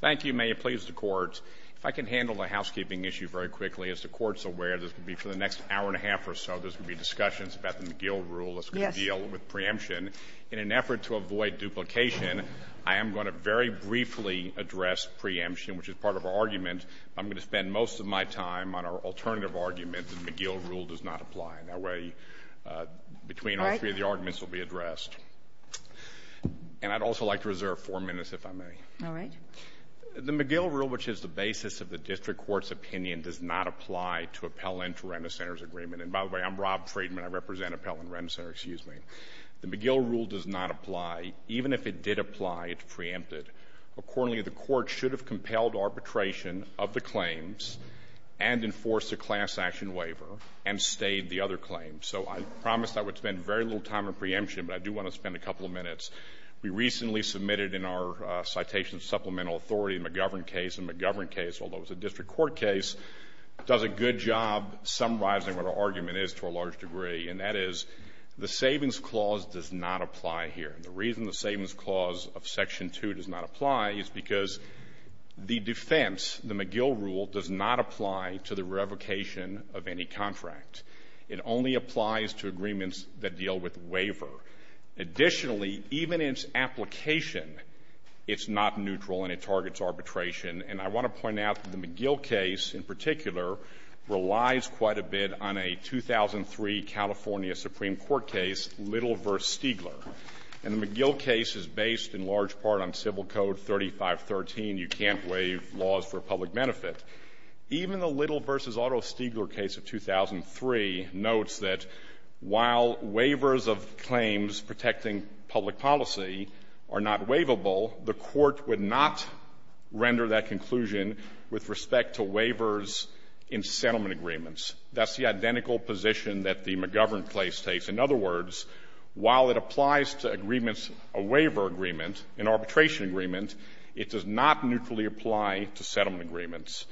Thank you. May it please the Court, if I can handle the housekeeping issue very quickly. As the Court's aware, this will be for the next hour and a half or so. There's going to be discussions about the McGill rule that's going to deal with preemption. In an effort to avoid duplication, I am going to very briefly address preemption, which is part of our argument. I'm going to spend most of my time on our alternative argument that the McGill rule does not apply. And that way, between all three of the arguments will be addressed. And I'd also like to reserve four minutes, if I may. All right. The McGill rule, which is the basis of the district court's opinion, does not apply to appellant-to-rent-a-center's agreement. And by the way, I'm Rob Friedman. I represent Even if it did apply, it's preempted. Accordingly, the Court should have compelled arbitration of the claims and enforced a class-action waiver and stayed the other claim. So I promised I would spend very little time on preemption, but I do want to spend a couple of minutes. We recently submitted in our citation supplemental authority, the McGovern case. And the McGovern case, although it's a district court case, does a good job summarizing what our argument is to a large degree. And that is, the Savings Clause does not apply here. And the reason the Savings Clause of Section 2 does not apply is because the defense, the McGill rule, does not apply to the revocation of any contract. It only applies to agreements that deal with waiver. Additionally, even its application, it's not neutral and it targets arbitration. And I want to point out that the McGill case in particular relies quite a bit on a 2003 California Supreme Court case, Little v. Stigler. And the McGill case is based in large part on Civil Code 3513, you can't waive laws for public benefit. Even the Little v. Otto Stigler case of 2003 notes that while waivers of claims protecting public policy are not waivable, the Court would not render that claim without a conclusion with respect to waivers in settlement agreements. That's the identical position that the McGovern case takes. In other words, while it applies to agreements, a waiver agreement, an arbitration agreement, it does not neutrally apply to settlement agreements.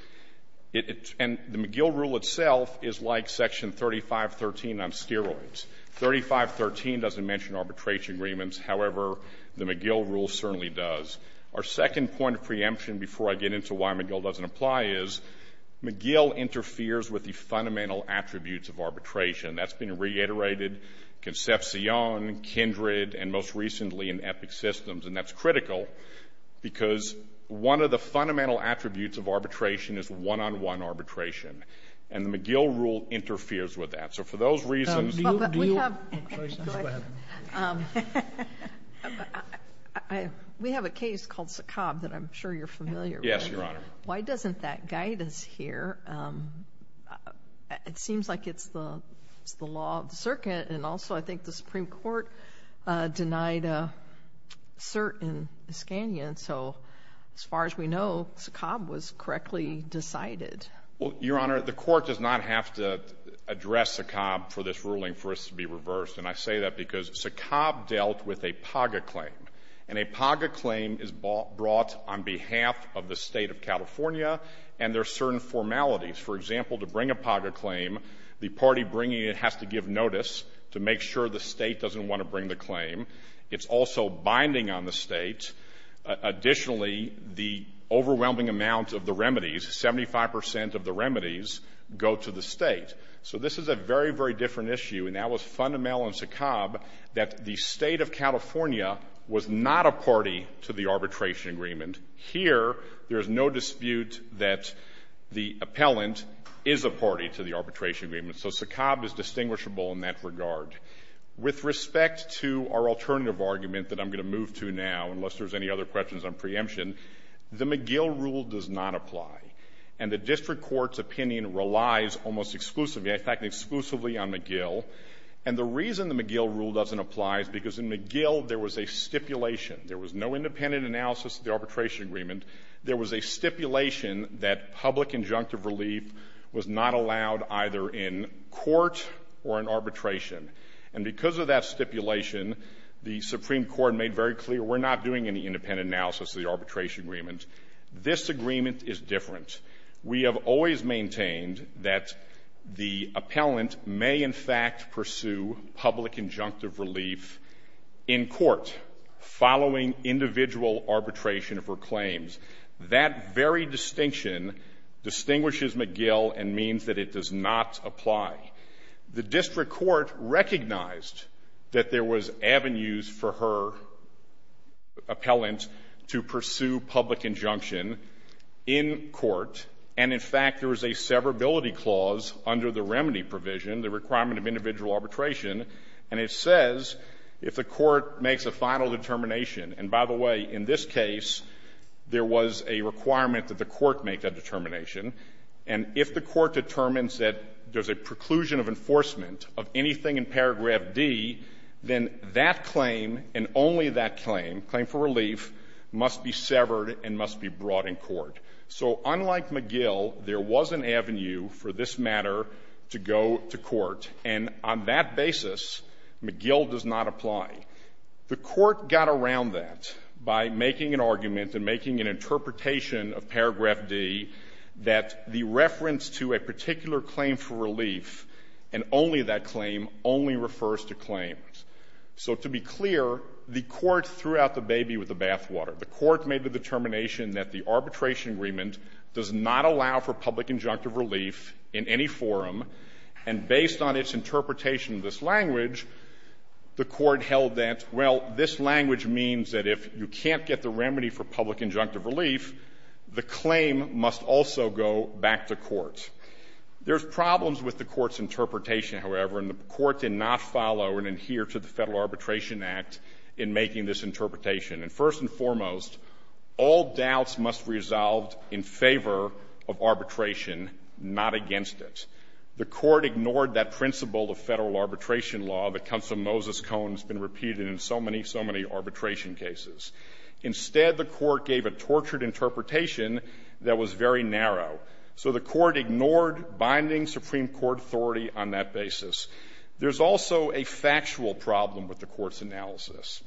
And the McGill rule itself is like Section 3513 on steroids. 3513 doesn't mention arbitration agreements. However, the McGill rule certainly does. Our second point of preemption before I get into why McGill doesn't apply is McGill interferes with the fundamental attributes of arbitration. That's been reiterated, Concepcion, Kindred, and most recently in Epic Systems. And that's critical, because one of the fundamental attributes of arbitration is one-on-one arbitration. And the McGill rule interferes with that. So for those reasons — Go ahead. We have a case called Sakab that I'm sure you're familiar with. Yes, Your Honor. Why doesn't that guide us here? It seems like it's the law of the circuit. And also, I think the Supreme Court denied a cert in Iskanian. So as far as we know, Sakab was correctly decided. Well, Your Honor, the Court does not have to address Sakab for this ruling for this to be reversed. And I say that because Sakab dealt with a PAGA claim. And a PAGA claim is brought on behalf of the State of California, and there are certain formalities. For example, to bring a PAGA claim, the party bringing it has to give notice to make sure the State doesn't want to bring the claim. It's also binding on the State. Additionally, the overwhelming amount of the remedies, 75 percent of the remedies, go to the State. So this is a very, very different issue. And that was fundamental in Sakab that the State of California was not a party to the arbitration agreement. Here, there is no dispute that the appellant is a party to the arbitration agreement. So Sakab is distinguishable in that regard. With respect to our alternative argument that I'm going to move to now, unless there's any other questions on preemption, the McGill rule does not apply. And the district court's opinion relies almost exclusively, in fact, exclusively on McGill. And the reason the McGill rule doesn't apply is because in McGill, there was a stipulation. There was no independent analysis of the arbitration agreement. There was a stipulation that public injunctive relief was not allowed either in court or in arbitration. And because of that stipulation, the Supreme Court made very clear, we're not doing any independent analysis of the arbitration agreement. This agreement is different. We have always maintained that the appellant may, in fact, pursue public injunctive relief in court following individual arbitration of her claims. That very distinction distinguishes McGill and means that it does not apply. The district court recognized that there was avenues for her appellant to pursue public injunction in court. And, in fact, there was a severability clause under the remedy provision, the requirement of individual arbitration. And it says, if the court makes a final determination, and by the way, in this case, there was a requirement that the court make that determination. And if the court says that there's a preclusion of enforcement of anything in paragraph D, then that claim and only that claim, claim for relief, must be severed and must be brought in court. So unlike McGill, there was an avenue for this matter to go to court. And on that basis, McGill does not apply. The court got around that by making an argument and making an interpretation of paragraph D that the reference to a particular claim for relief and only that claim only refers to claims. So to be clear, the court threw out the baby with the bathwater. The court made the determination that the arbitration agreement does not allow for public injunctive relief in any forum. And based on its interpretation of this language, the court held that, well, this language means that if you can't get the remedy for public injunctive relief, the claim must also go back to court. There's problems with the court's interpretation, however, and the court did not follow and adhere to the Federal Arbitration Act in making this interpretation. And first and foremost, all doubts must be resolved in favor of arbitration, not against it. The court ignored that principle of federal arbitration law that comes from Moses Cohen and has been repeated in so many, so many arbitration cases. Instead, the court gave a tortured interpretation that was very narrow. So the court ignored binding Supreme Court authority on that basis. There's also a factual problem with the court's analysis.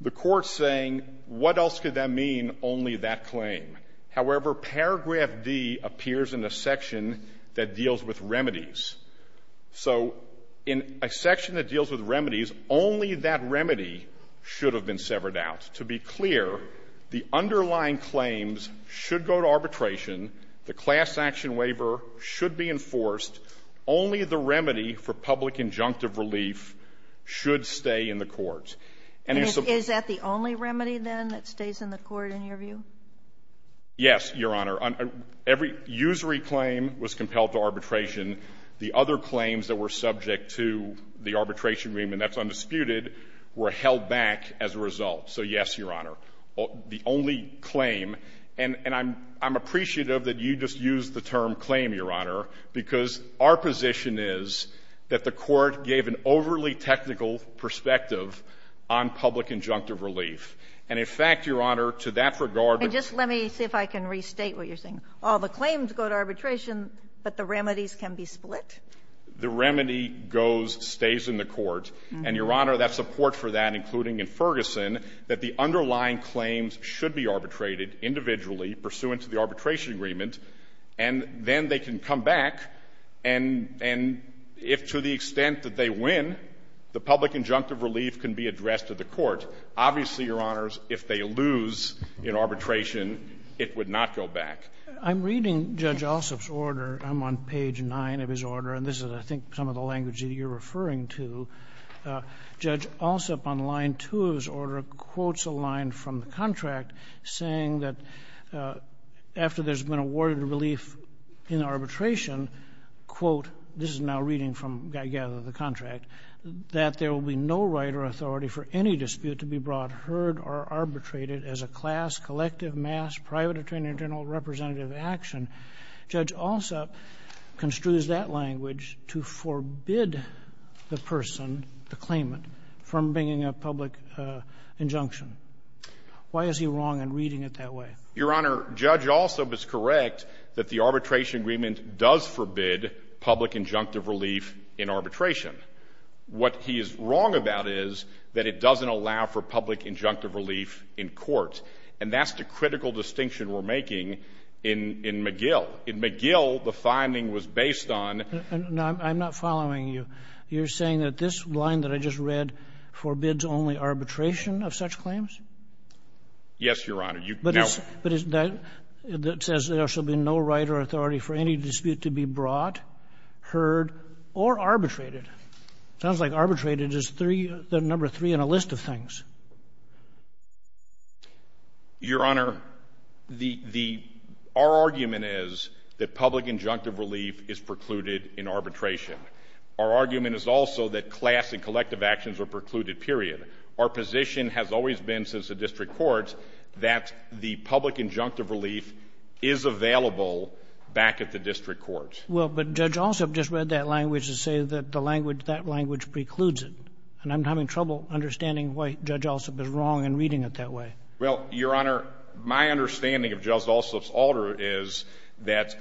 The court's saying, what else could that mean, only that claim? However, paragraph D appears in a section that deals with remedies. So in a section that deals with remedies, only that remedy should have been severed out. To be clear, the underlying claims should go to arbitration. The class action waiver should be enforced. Only the remedy for public injunctive relief should stay in the court. And you're supposed to be able to do that. And is that the only remedy, then, that stays in the court, in your view? Yes, Your Honor. Every usury claim was compelled to arbitration. The other claims that were subject to the arbitration agreement that's undisputed were held back as a result. So yes, Your Honor. The only claim, and I'm appreciative that you just used the term claim, Your Honor, because our position is that the court gave an overly technical perspective on public injunctive relief. And, in fact, Your Honor, to that regard the Just let me see if I can restate what you're saying. All the claims go to arbitration, but the remedies can be split? The remedy goes, stays in the court. And, Your Honor, that's a port for that, including in Ferguson, that the underlying claims should be arbitrated individually pursuant to the arbitration agreement, and then they can come back. And if, to the extent that they win, the public injunctive relief can be addressed to the court. Obviously, Your Honors, if they lose in arbitration, it would not go back. I'm reading Judge Alsup's order. I'm on page 9 of his order, and this is, I think, some of the language that you're referring to. Judge Alsup, on line 2 of his order, quotes a line from the contract saying that after there's been awarded relief in arbitration, quote, this is now reading from the contract, that there will be no right or authority for any dispute to be brought heard or arbitrated as a class, collective, mass, private, attorney general, representative action. Judge Alsup construes that language to forbid the person, the claimant, from bringing a public injunction. Why is he wrong in reading it that way? Your Honor, Judge Alsup is correct that the arbitration agreement does forbid public injunctive relief in arbitration. What he is wrong about is that it doesn't allow for public injunctive relief in court, and that's the critical distinction we're making in McGill. In McGill, the finding was based on... No, I'm not following you. You're saying that this line that I just read forbids only arbitration of such claims? Yes, Your Honor. But it says there shall be no right or authority for any dispute to be brought, heard, or arbitrated. It sounds like arbitrated is the number three on a list of things. Your Honor, our argument is that public injunctive relief is precluded in arbitration. Our argument is also that class and collective actions are precluded, period. Our position has always been since the district court that the public injunctive relief is available back at the district court. Well, but Judge Alsup just read that language to say that that language precludes it. And I'm having trouble understanding why Judge Alsup is wrong in reading it that way. Well, Your Honor, my understanding of Judge Alsup's order is that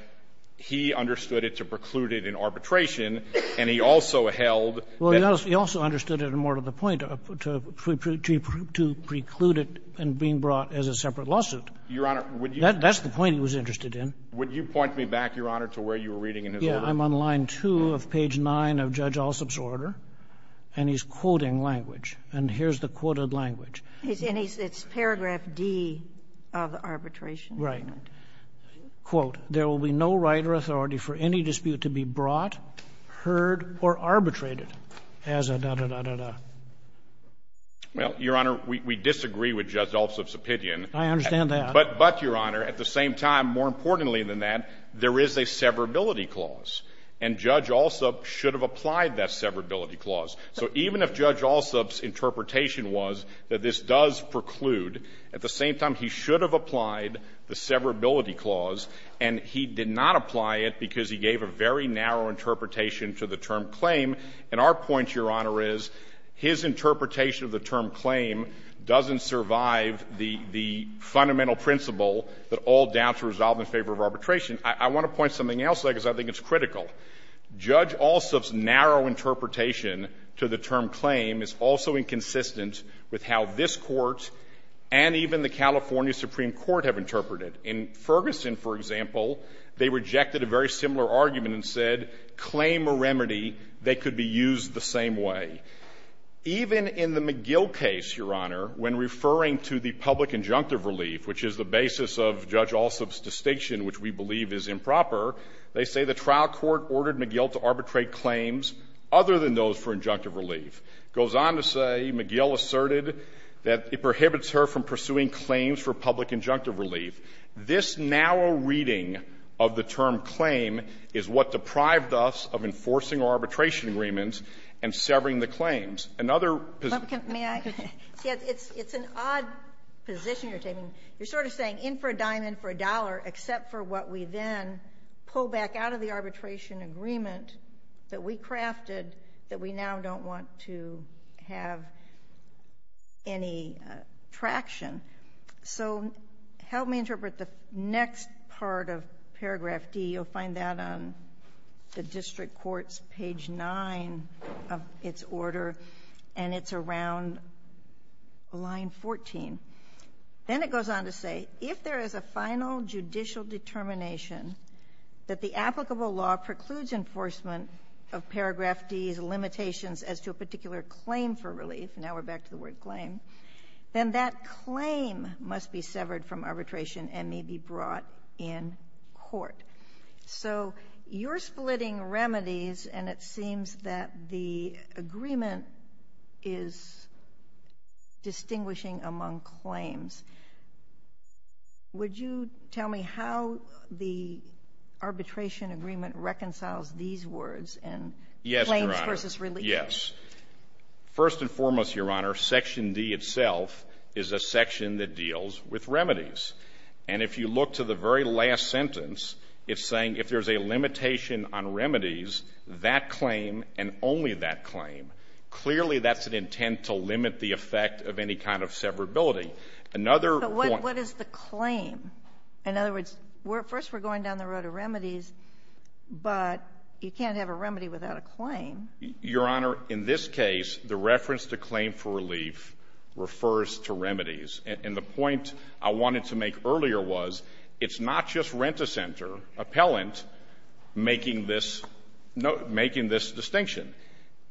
he understood it to preclude it in arbitration, and he also held... Well, he also understood it more to the point, to preclude it and being brought as a separate lawsuit. Your Honor, would you... That's the point he was interested in. Would you point me back, Your Honor, to where you were reading in his order? Yeah. I'm on line 2 of page 9 of Judge Alsup's order, and he's quoting language. And here's the quoted language. And it's paragraph D of the arbitration. Right. Quote, there will be no right or authority for any dispute to be brought, heard, or arbitrated as a da-da-da-da-da. Well, Your Honor, we disagree with Judge Alsup's opinion. I understand that. But, Your Honor, at the same time, more importantly than that, there is a severability clause, and Judge Alsup should have applied that severability clause. So even if Judge Alsup's interpretation was that this does preclude, at the same time, he should have applied the severability clause, and he did not apply it because he gave a very narrow interpretation to the term claim. And our point, Your Honor, is his interpretation of the term claim doesn't survive the fundamental principle that all doubts are resolved in favor of arbitration. I want to point to something else, though, because I think it's critical. Judge Alsup's narrow interpretation to the term claim is also inconsistent with how this Court and even the California Supreme Court have interpreted. In Ferguson, for example, they rejected a very similar argument and said claim or remedy, they could be used the same way. Even in the McGill case, Your Honor, when referring to the public injunctive relief, which is the basis of Judge Alsup's distinction, which we believe is improper, they say the trial court ordered McGill to arbitrate claims other than those for injunctive relief. It goes on to say McGill asserted that it prohibits her from pursuing claims for injunctive relief. This narrow reading of the term claim is what deprived us of enforcing our arbitration agreements and severing the claims. Another position ---- May I? It's an odd position you're taking. You're sort of saying in for a dime, in for a dollar, except for what we then pull back out of the arbitration agreement that we crafted that we now don't want to have any traction. So help me interpret the next part of paragraph D. You'll find that on the district court's page 9 of its order, and it's around line 14. Then it goes on to say, if there is a final judicial determination that the applicable law precludes enforcement of paragraph D's limitations as to a particular claim for relief, now we're back to the word claim, then that claim must be severed from arbitration and may be brought in court. So you're splitting remedies, and it seems that the agreement is distinguishing among claims. Would you tell me how the arbitration agreement reconciles these words and claims versus relief? Yes. First and foremost, Your Honor, section D itself is a section that deals with remedies. And if you look to the very last sentence, it's saying if there's a limitation on remedies, that claim and only that claim, clearly that's an intent to limit the effect of any kind of severability. Another point ---- But what is the claim? In other words, first we're going down the road of remedies, but you can't have a remedy without a claim. Your Honor, in this case, the reference to claim for relief refers to remedies. And the point I wanted to make earlier was it's not just Renta Center appellant making this distinction.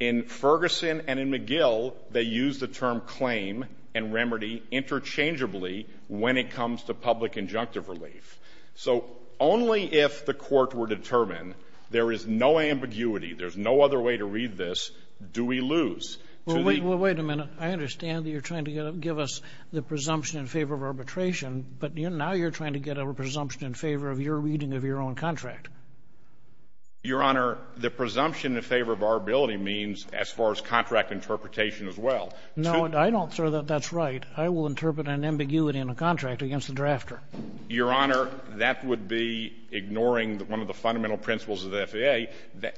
In Ferguson and in McGill, they use the term claim and remedy interchangeably when it comes to public injunctive relief. So only if the court were determined there is no ambiguity, there's no other way to read this, do we lose to the ---- Well, wait a minute. I understand that you're trying to give us the presumption in favor of arbitration, but now you're trying to get a presumption in favor of your reading of your own contract. Your Honor, the presumption in favor of arbitrability means as far as contract interpretation as well. No, I don't think that that's right. I will interpret an ambiguity in a contract against the drafter. Your Honor, that would be ignoring one of the fundamental principles of the FAA.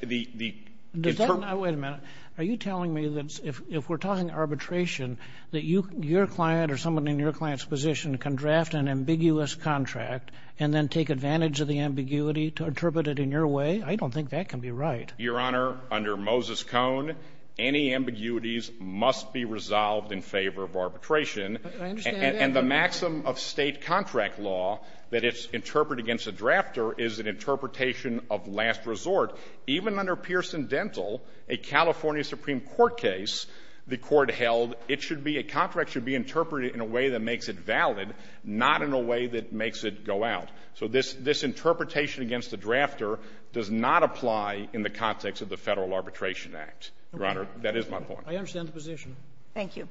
Does that not ---- Wait a minute. Are you telling me that if we're talking arbitration, that your client or someone in your client's position can draft an ambiguous contract and then take advantage of the ambiguity to interpret it in your way? I don't think that can be right. Your Honor, under Moses Cone, any ambiguities must be resolved in favor of arbitration. I understand that. And the maxim of State contract law that it's interpreted against a drafter is an ambiguous contract. However, even under Pearson Dental, a California Supreme Court case, the Court held it should be ---- a contract should be interpreted in a way that makes it valid, not in a way that makes it go out. So this interpretation against the drafter does not apply in the context of the Federal Arbitration Act. Your Honor, that is my point. I understand the position. Thank you.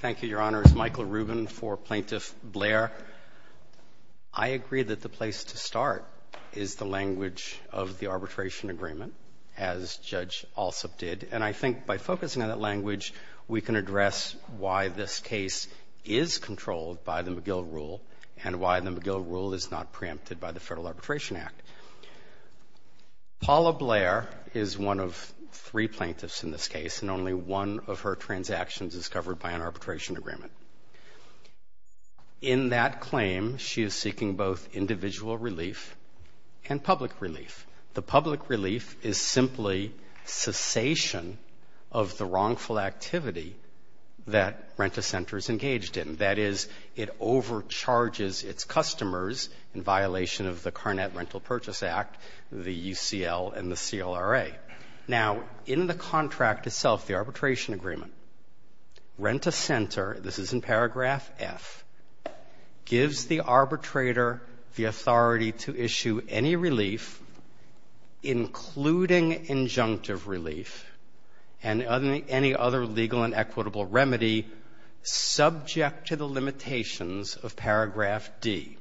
Thank you, Your Honor. It's Michael Rubin for Plaintiff Blair. I agree that the place to start is the language of the arbitration agreement, as Judge Alsop did. And I think by focusing on that language, we can address why this case is controlled by the McGill rule and why the McGill rule is not preempted by the Federal Arbitration Act. Paula Blair is one of three plaintiffs in this case, and only one of her transactions is covered by an arbitration agreement. In that claim, she is seeking both individual relief and public relief. The public relief is simply cessation of the wrongful activity that Rent-A-Center is engaged in. That is, it overcharges its customers in violation of the Carnet Rental Purchase Act, the UCL, and the CLRA. Now, in the contract itself, the arbitration agreement, Rent-A-Center, this is in paragraph F, gives the arbitrator the authority to issue any relief, including injunctive relief, and any other legal and equitable remedy subject to the limitations of paragraph D.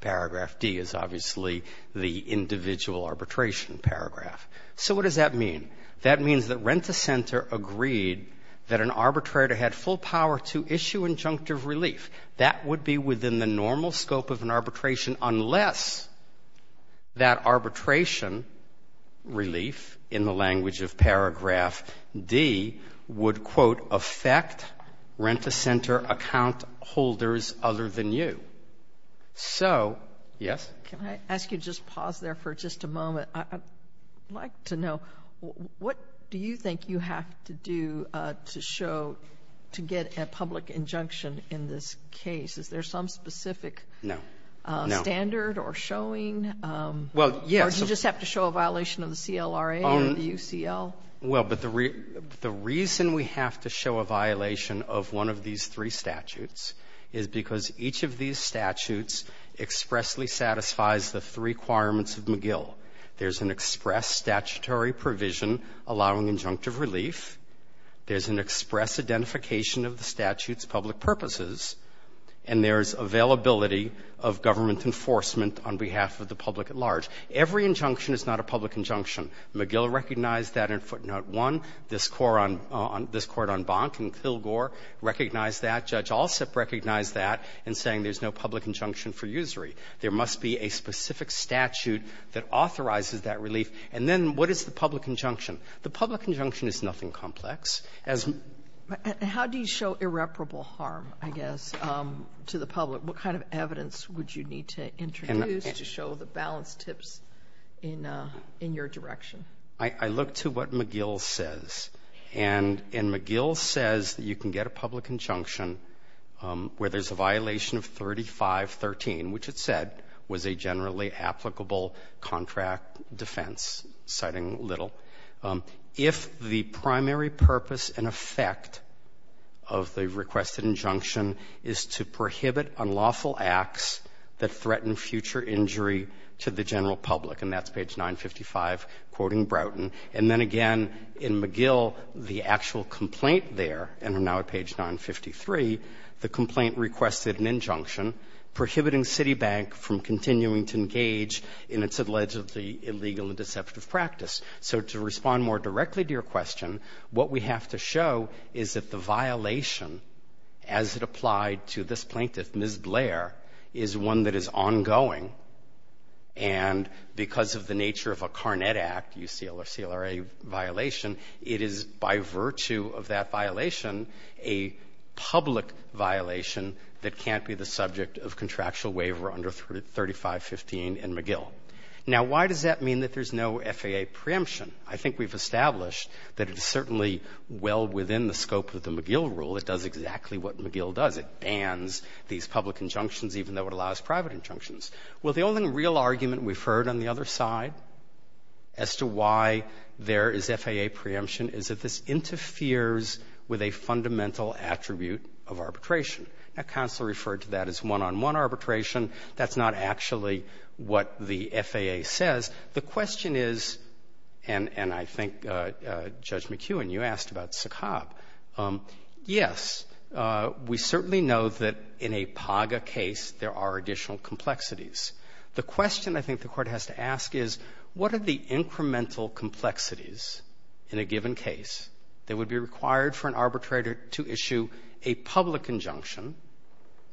Paragraph D is obviously the individual arbitration paragraph. So what does that mean? That means that Rent-A-Center agreed that an arbitrator had full power to issue injunctive relief. That would be within the normal scope of an arbitration unless that arbitration relief, in the language of paragraph D, would, quote, affect Rent-A-Center account holders other than you. So, yes? Can I ask you to just pause there for just a moment? I'd like to know, what do you think you have to do to show, to get a public injunction in this case? Is there some specific standard or showing? Well, yes. Or do you just have to show a violation of the CLRA or the UCL? Well, but the reason we have to show a violation of one of these three statutes is because each of these statutes expressly satisfies the three requirements of McGill. There's an express statutory provision allowing injunctive relief. There's an express identification of the statute's public purposes. And there's availability of government enforcement on behalf of the public at large. Every injunction is not a public injunction. McGill recognized that in footnote 1. This Court on Bonk and Kilgore recognized that. Judge Alsup recognized that in saying there's no public injunction for usury. There must be a specific statute that authorizes that relief. And then what is the public injunction? The public injunction is nothing complex. How do you show irreparable harm, I guess, to the public? What kind of evidence would you need to introduce to show the balanced tips in your direction? I look to what McGill says. And McGill says that you can get a public injunction where there's a violation of 3513, which it said was a generally applicable contract defense, citing Little, if the primary purpose and effect of the requested injunction is to prohibit unlawful acts that threaten future injury to the general public. And that's page 955, quoting Broughton. And then again, in McGill, the actual complaint there, and I'm now at page 953, the complaint requested an injunction prohibiting Citibank from continuing to engage in its allegedly illegal and deceptive practice. So to respond more directly to your question, what we have to show is that the violation as it applied to this plaintiff, Ms. Blair, is one that is ongoing. And because of the nature of a Carnet Act, UCLA violation, it is by virtue of that violation a public violation that can't be the subject of contractual waiver under 3515 and McGill. Now, why does that mean that there's no FAA preemption? I think we've established that it's certainly well within the scope of the McGill rule. It does exactly what McGill does. It bans these public injunctions, even though it allows private injunctions. Well, the only real argument we've heard on the other side as to why there is FAA preemption is that this interferes with a fundamental attribute of arbitration. Now, counsel referred to that as one-on-one arbitration. That's not actually what the FAA says. The question is, and I think Judge McEwen, you asked about Sakab, yes, we certainly know that in a PAGA case there are additional complexities. The question I think the Court has to ask is, what are the incremental complexities in a given case that would be required for an arbitrator to issue a public injunction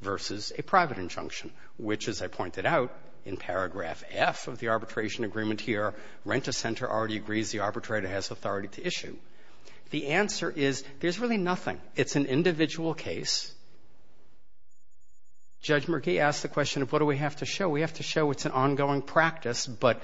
versus a private injunction, which, as I pointed out in paragraph F of the arbitration agreement here, Renta Center already agrees the arbitrator has authority to issue. The answer is there's really nothing. It's an individual case. Judge McGee asked the question of what do we have to show. We have to show it's an ongoing practice, but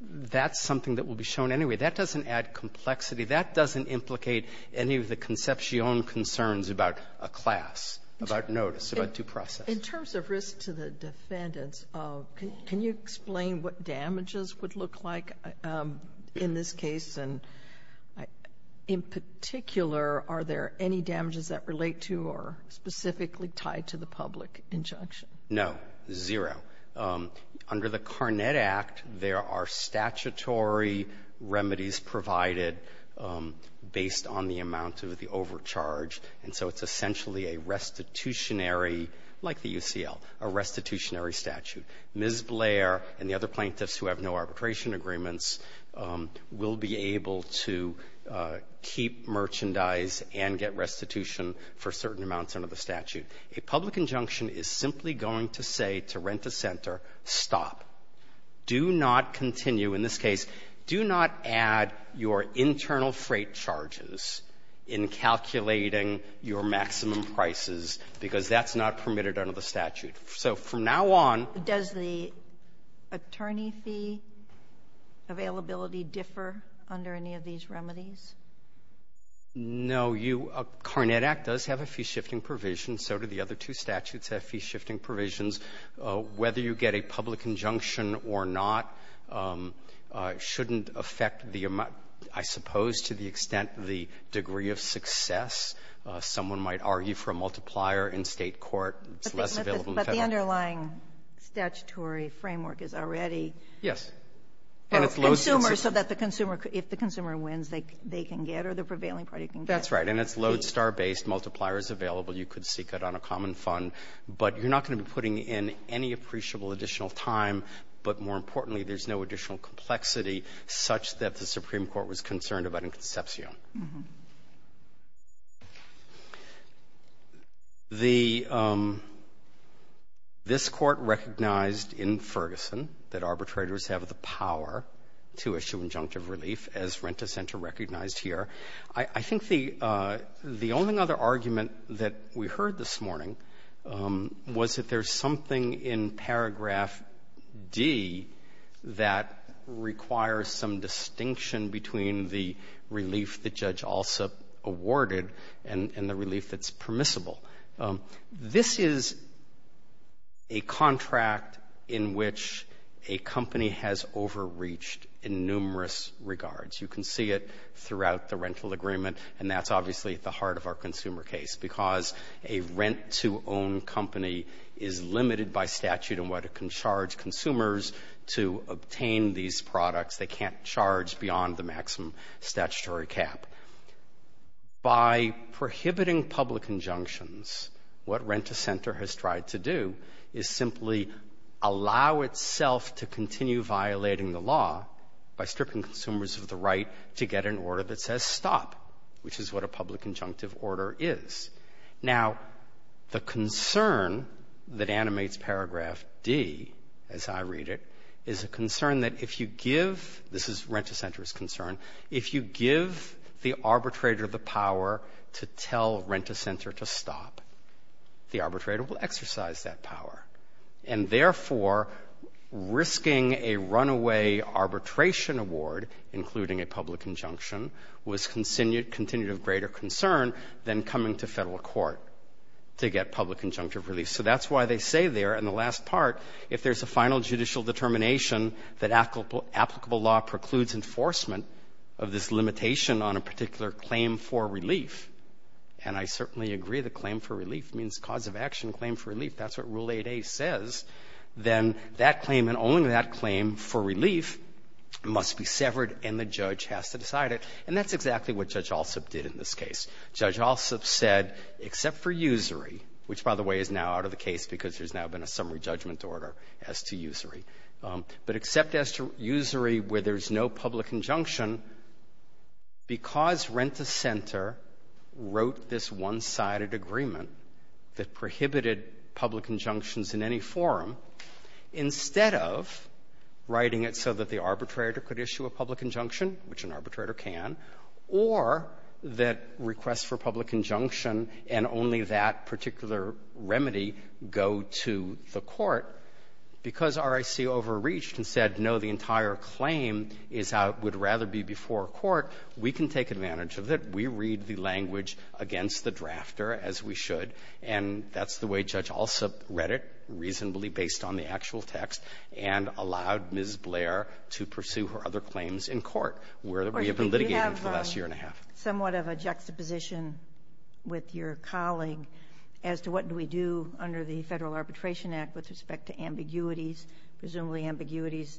that's something that will be shown anyway. That doesn't add complexity. That doesn't implicate any of the conception concerns about a class, about notice, about due process. In terms of risk to the defendants, can you explain what damages would look like in this case, and in particular, are there any damages that relate to or specifically tie to the public injunction? No. Zero. Under the Carnet Act, there are statutory remedies provided based on the amount of the overcharge, and so it's essentially a restitutionary, like the UCL, a restitutionary statute. Ms. Blair and the other plaintiffs who have no arbitration agreements will be able to keep merchandise and get restitution for certain amounts under the statute. A public injunction is simply going to say to Renta Center, stop. Do not continue. In this case, do not add your internal freight charges in calculating your maximum prices, because that's not permitted under the statute. So from now on — Does the attorney fee availability differ under any of these remedies? No. You — Carnet Act does have a fee-shifting provision. So do the other two statutes have fee-shifting provisions. Whether you get a public injunction or not shouldn't affect the amount — I suppose to the extent the degree of success. Someone might argue for a multiplier in State court. It's less available in Federal court. But the underlying statutory framework is already — Yes. Consumers, so that the consumer — if the consumer wins, they can get, or the prevailing party can get. That's right. And it's lodestar-based. Multiplier is available. You could seek it on a common fund. But you're not going to be putting in any appreciable additional time, but more importantly, there's no additional complexity such that the Supreme Court was concerned about in Concepcion. Mm-hmm. The — this Court recognized in Ferguson that arbitrators have the power to issue injunctive relief, as Renta Center recognized here. I think the only other argument that we heard this morning was that there's something in paragraph D that requires some distinction between the relief that Judge Alsop awarded and the relief that's permissible. This is a contract in which a company has overreached in numerous regards. You can see it throughout the rental agreement, and that's obviously at the heart of our can charge consumers to obtain these products. They can't charge beyond the maximum statutory cap. By prohibiting public injunctions, what Renta Center has tried to do is simply allow itself to continue violating the law by stripping consumers of the right to get an order that says stop, which is what a public injunctive order is. Now, the concern that animates paragraph D, as I read it, is a concern that if you give — this is Renta Center's concern — if you give the arbitrator the power to tell Renta Center to stop, the arbitrator will exercise that power. And therefore, risking a runaway arbitration award, including a public injunction, was continued — continued of greater concern than coming to Federal court to get public injunctive relief. So that's why they say there in the last part, if there's a final judicial determination that applicable law precludes enforcement of this limitation on a particular claim for relief, and I certainly agree that claim for relief means cause of action claim for relief. That's what Rule 8a says. Then that claim and only that claim for relief must be severed and the judge has to decide it, and that's exactly what Judge Alsup did in this case. Judge Alsup said, except for usury, which, by the way, is now out of the case because there's now been a summary judgment order as to usury, but except as to usury where there's no public injunction, because Renta Center wrote this one-sided agreement that prohibited public injunctions in any forum, instead of writing it so that the arbitrator could issue a public injunction, which an arbitrator can, or that requests for public injunction and only that particular remedy go to the court, because RIC overreached and said, no, the entire claim is how it would rather be before court, we can take advantage of it, we read the language against the drafter as we should, and that's the way Judge Alsup read it, reasonably based on the actual text, and allowed Ms. Blair to pursue her other claims in court, where we have been litigating for the last year and a half. You have somewhat of a juxtaposition with your colleague as to what do we do under the Federal Arbitration Act with respect to ambiguities, presumably ambiguities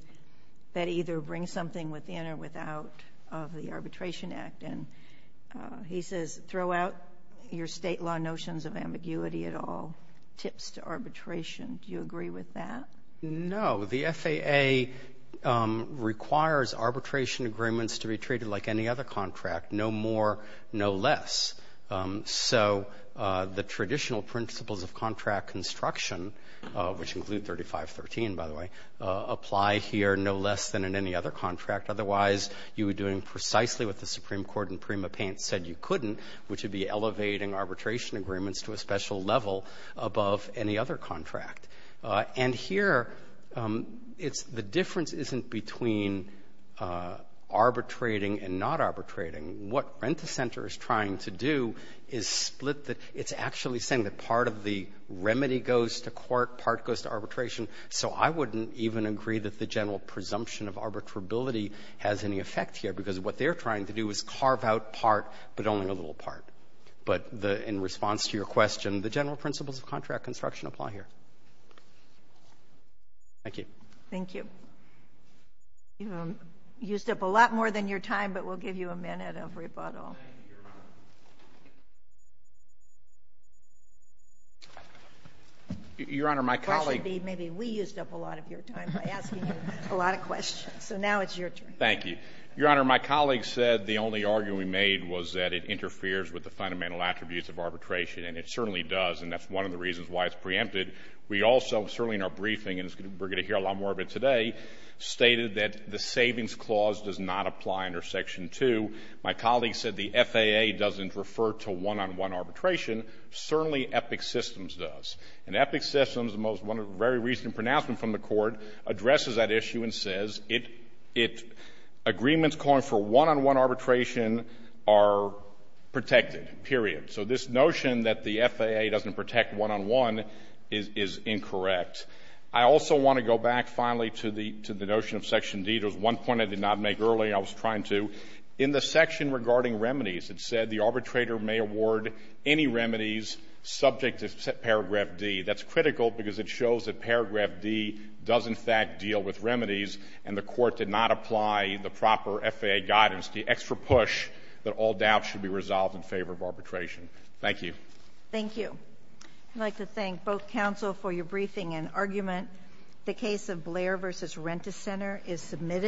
that either bring something within or without of the Arbitration Act, and he says, throw out your state law notions of ambiguity at all, tips to arbitration. Do you agree with that? No. The FAA requires arbitration agreements to be treated like any other contract, no more, no less. So the traditional principles of contract construction, which include 3513, by the way, apply here no less than in any other contract. Otherwise, you are doing precisely what the Supreme Court in Prima Pena said you couldn't, which would be elevating arbitration agreements to a special level above any other contract. And here, it's the difference isn't between arbitrating and not arbitrating. What Rent-A-Center is trying to do is split the — it's actually saying that part of the remedy goes to court, part goes to arbitration, so I wouldn't even agree that the general presumption of arbitrability has any effect here because what they're trying to do is carve out part, but only a little part. But in response to your question, the general principles of contract construction apply here. Thank you. Thank you. You've used up a lot more than your time, but we'll give you a minute of rebuttal. Thank you, Your Honor. Your Honor, my colleague — I'm giving you a lot of questions. So now it's your turn. Thank you. Your Honor, my colleague said the only argument we made was that it interferes with the fundamental attributes of arbitration, and it certainly does, and that's one of the reasons why it's preempted. We also, certainly in our briefing, and we're going to hear a lot more of it today, stated that the Savings Clause does not apply under Section 2. My colleague said the FAA doesn't refer to one-on-one arbitration. Certainly Epic Systems does. And Epic Systems, one of the very recent pronouncements from the Court, addresses that issue and says agreements calling for one-on-one arbitration are protected, period. So this notion that the FAA doesn't protect one-on-one is incorrect. I also want to go back, finally, to the notion of Section D. There was one point I did not make earlier, and I was trying to. In the section regarding remedies, it said the arbitrator may award any remedies subject to paragraph D. That's critical because it shows that paragraph D does, in fact, deal with remedies, and the Court did not apply the proper FAA guidance, the extra push that all doubts should be resolved in favor of arbitration. Thank you. Thank you. I'd like to thank both counsel for your briefing and argument. The case of Blair v. Rent-A-Center is submitted.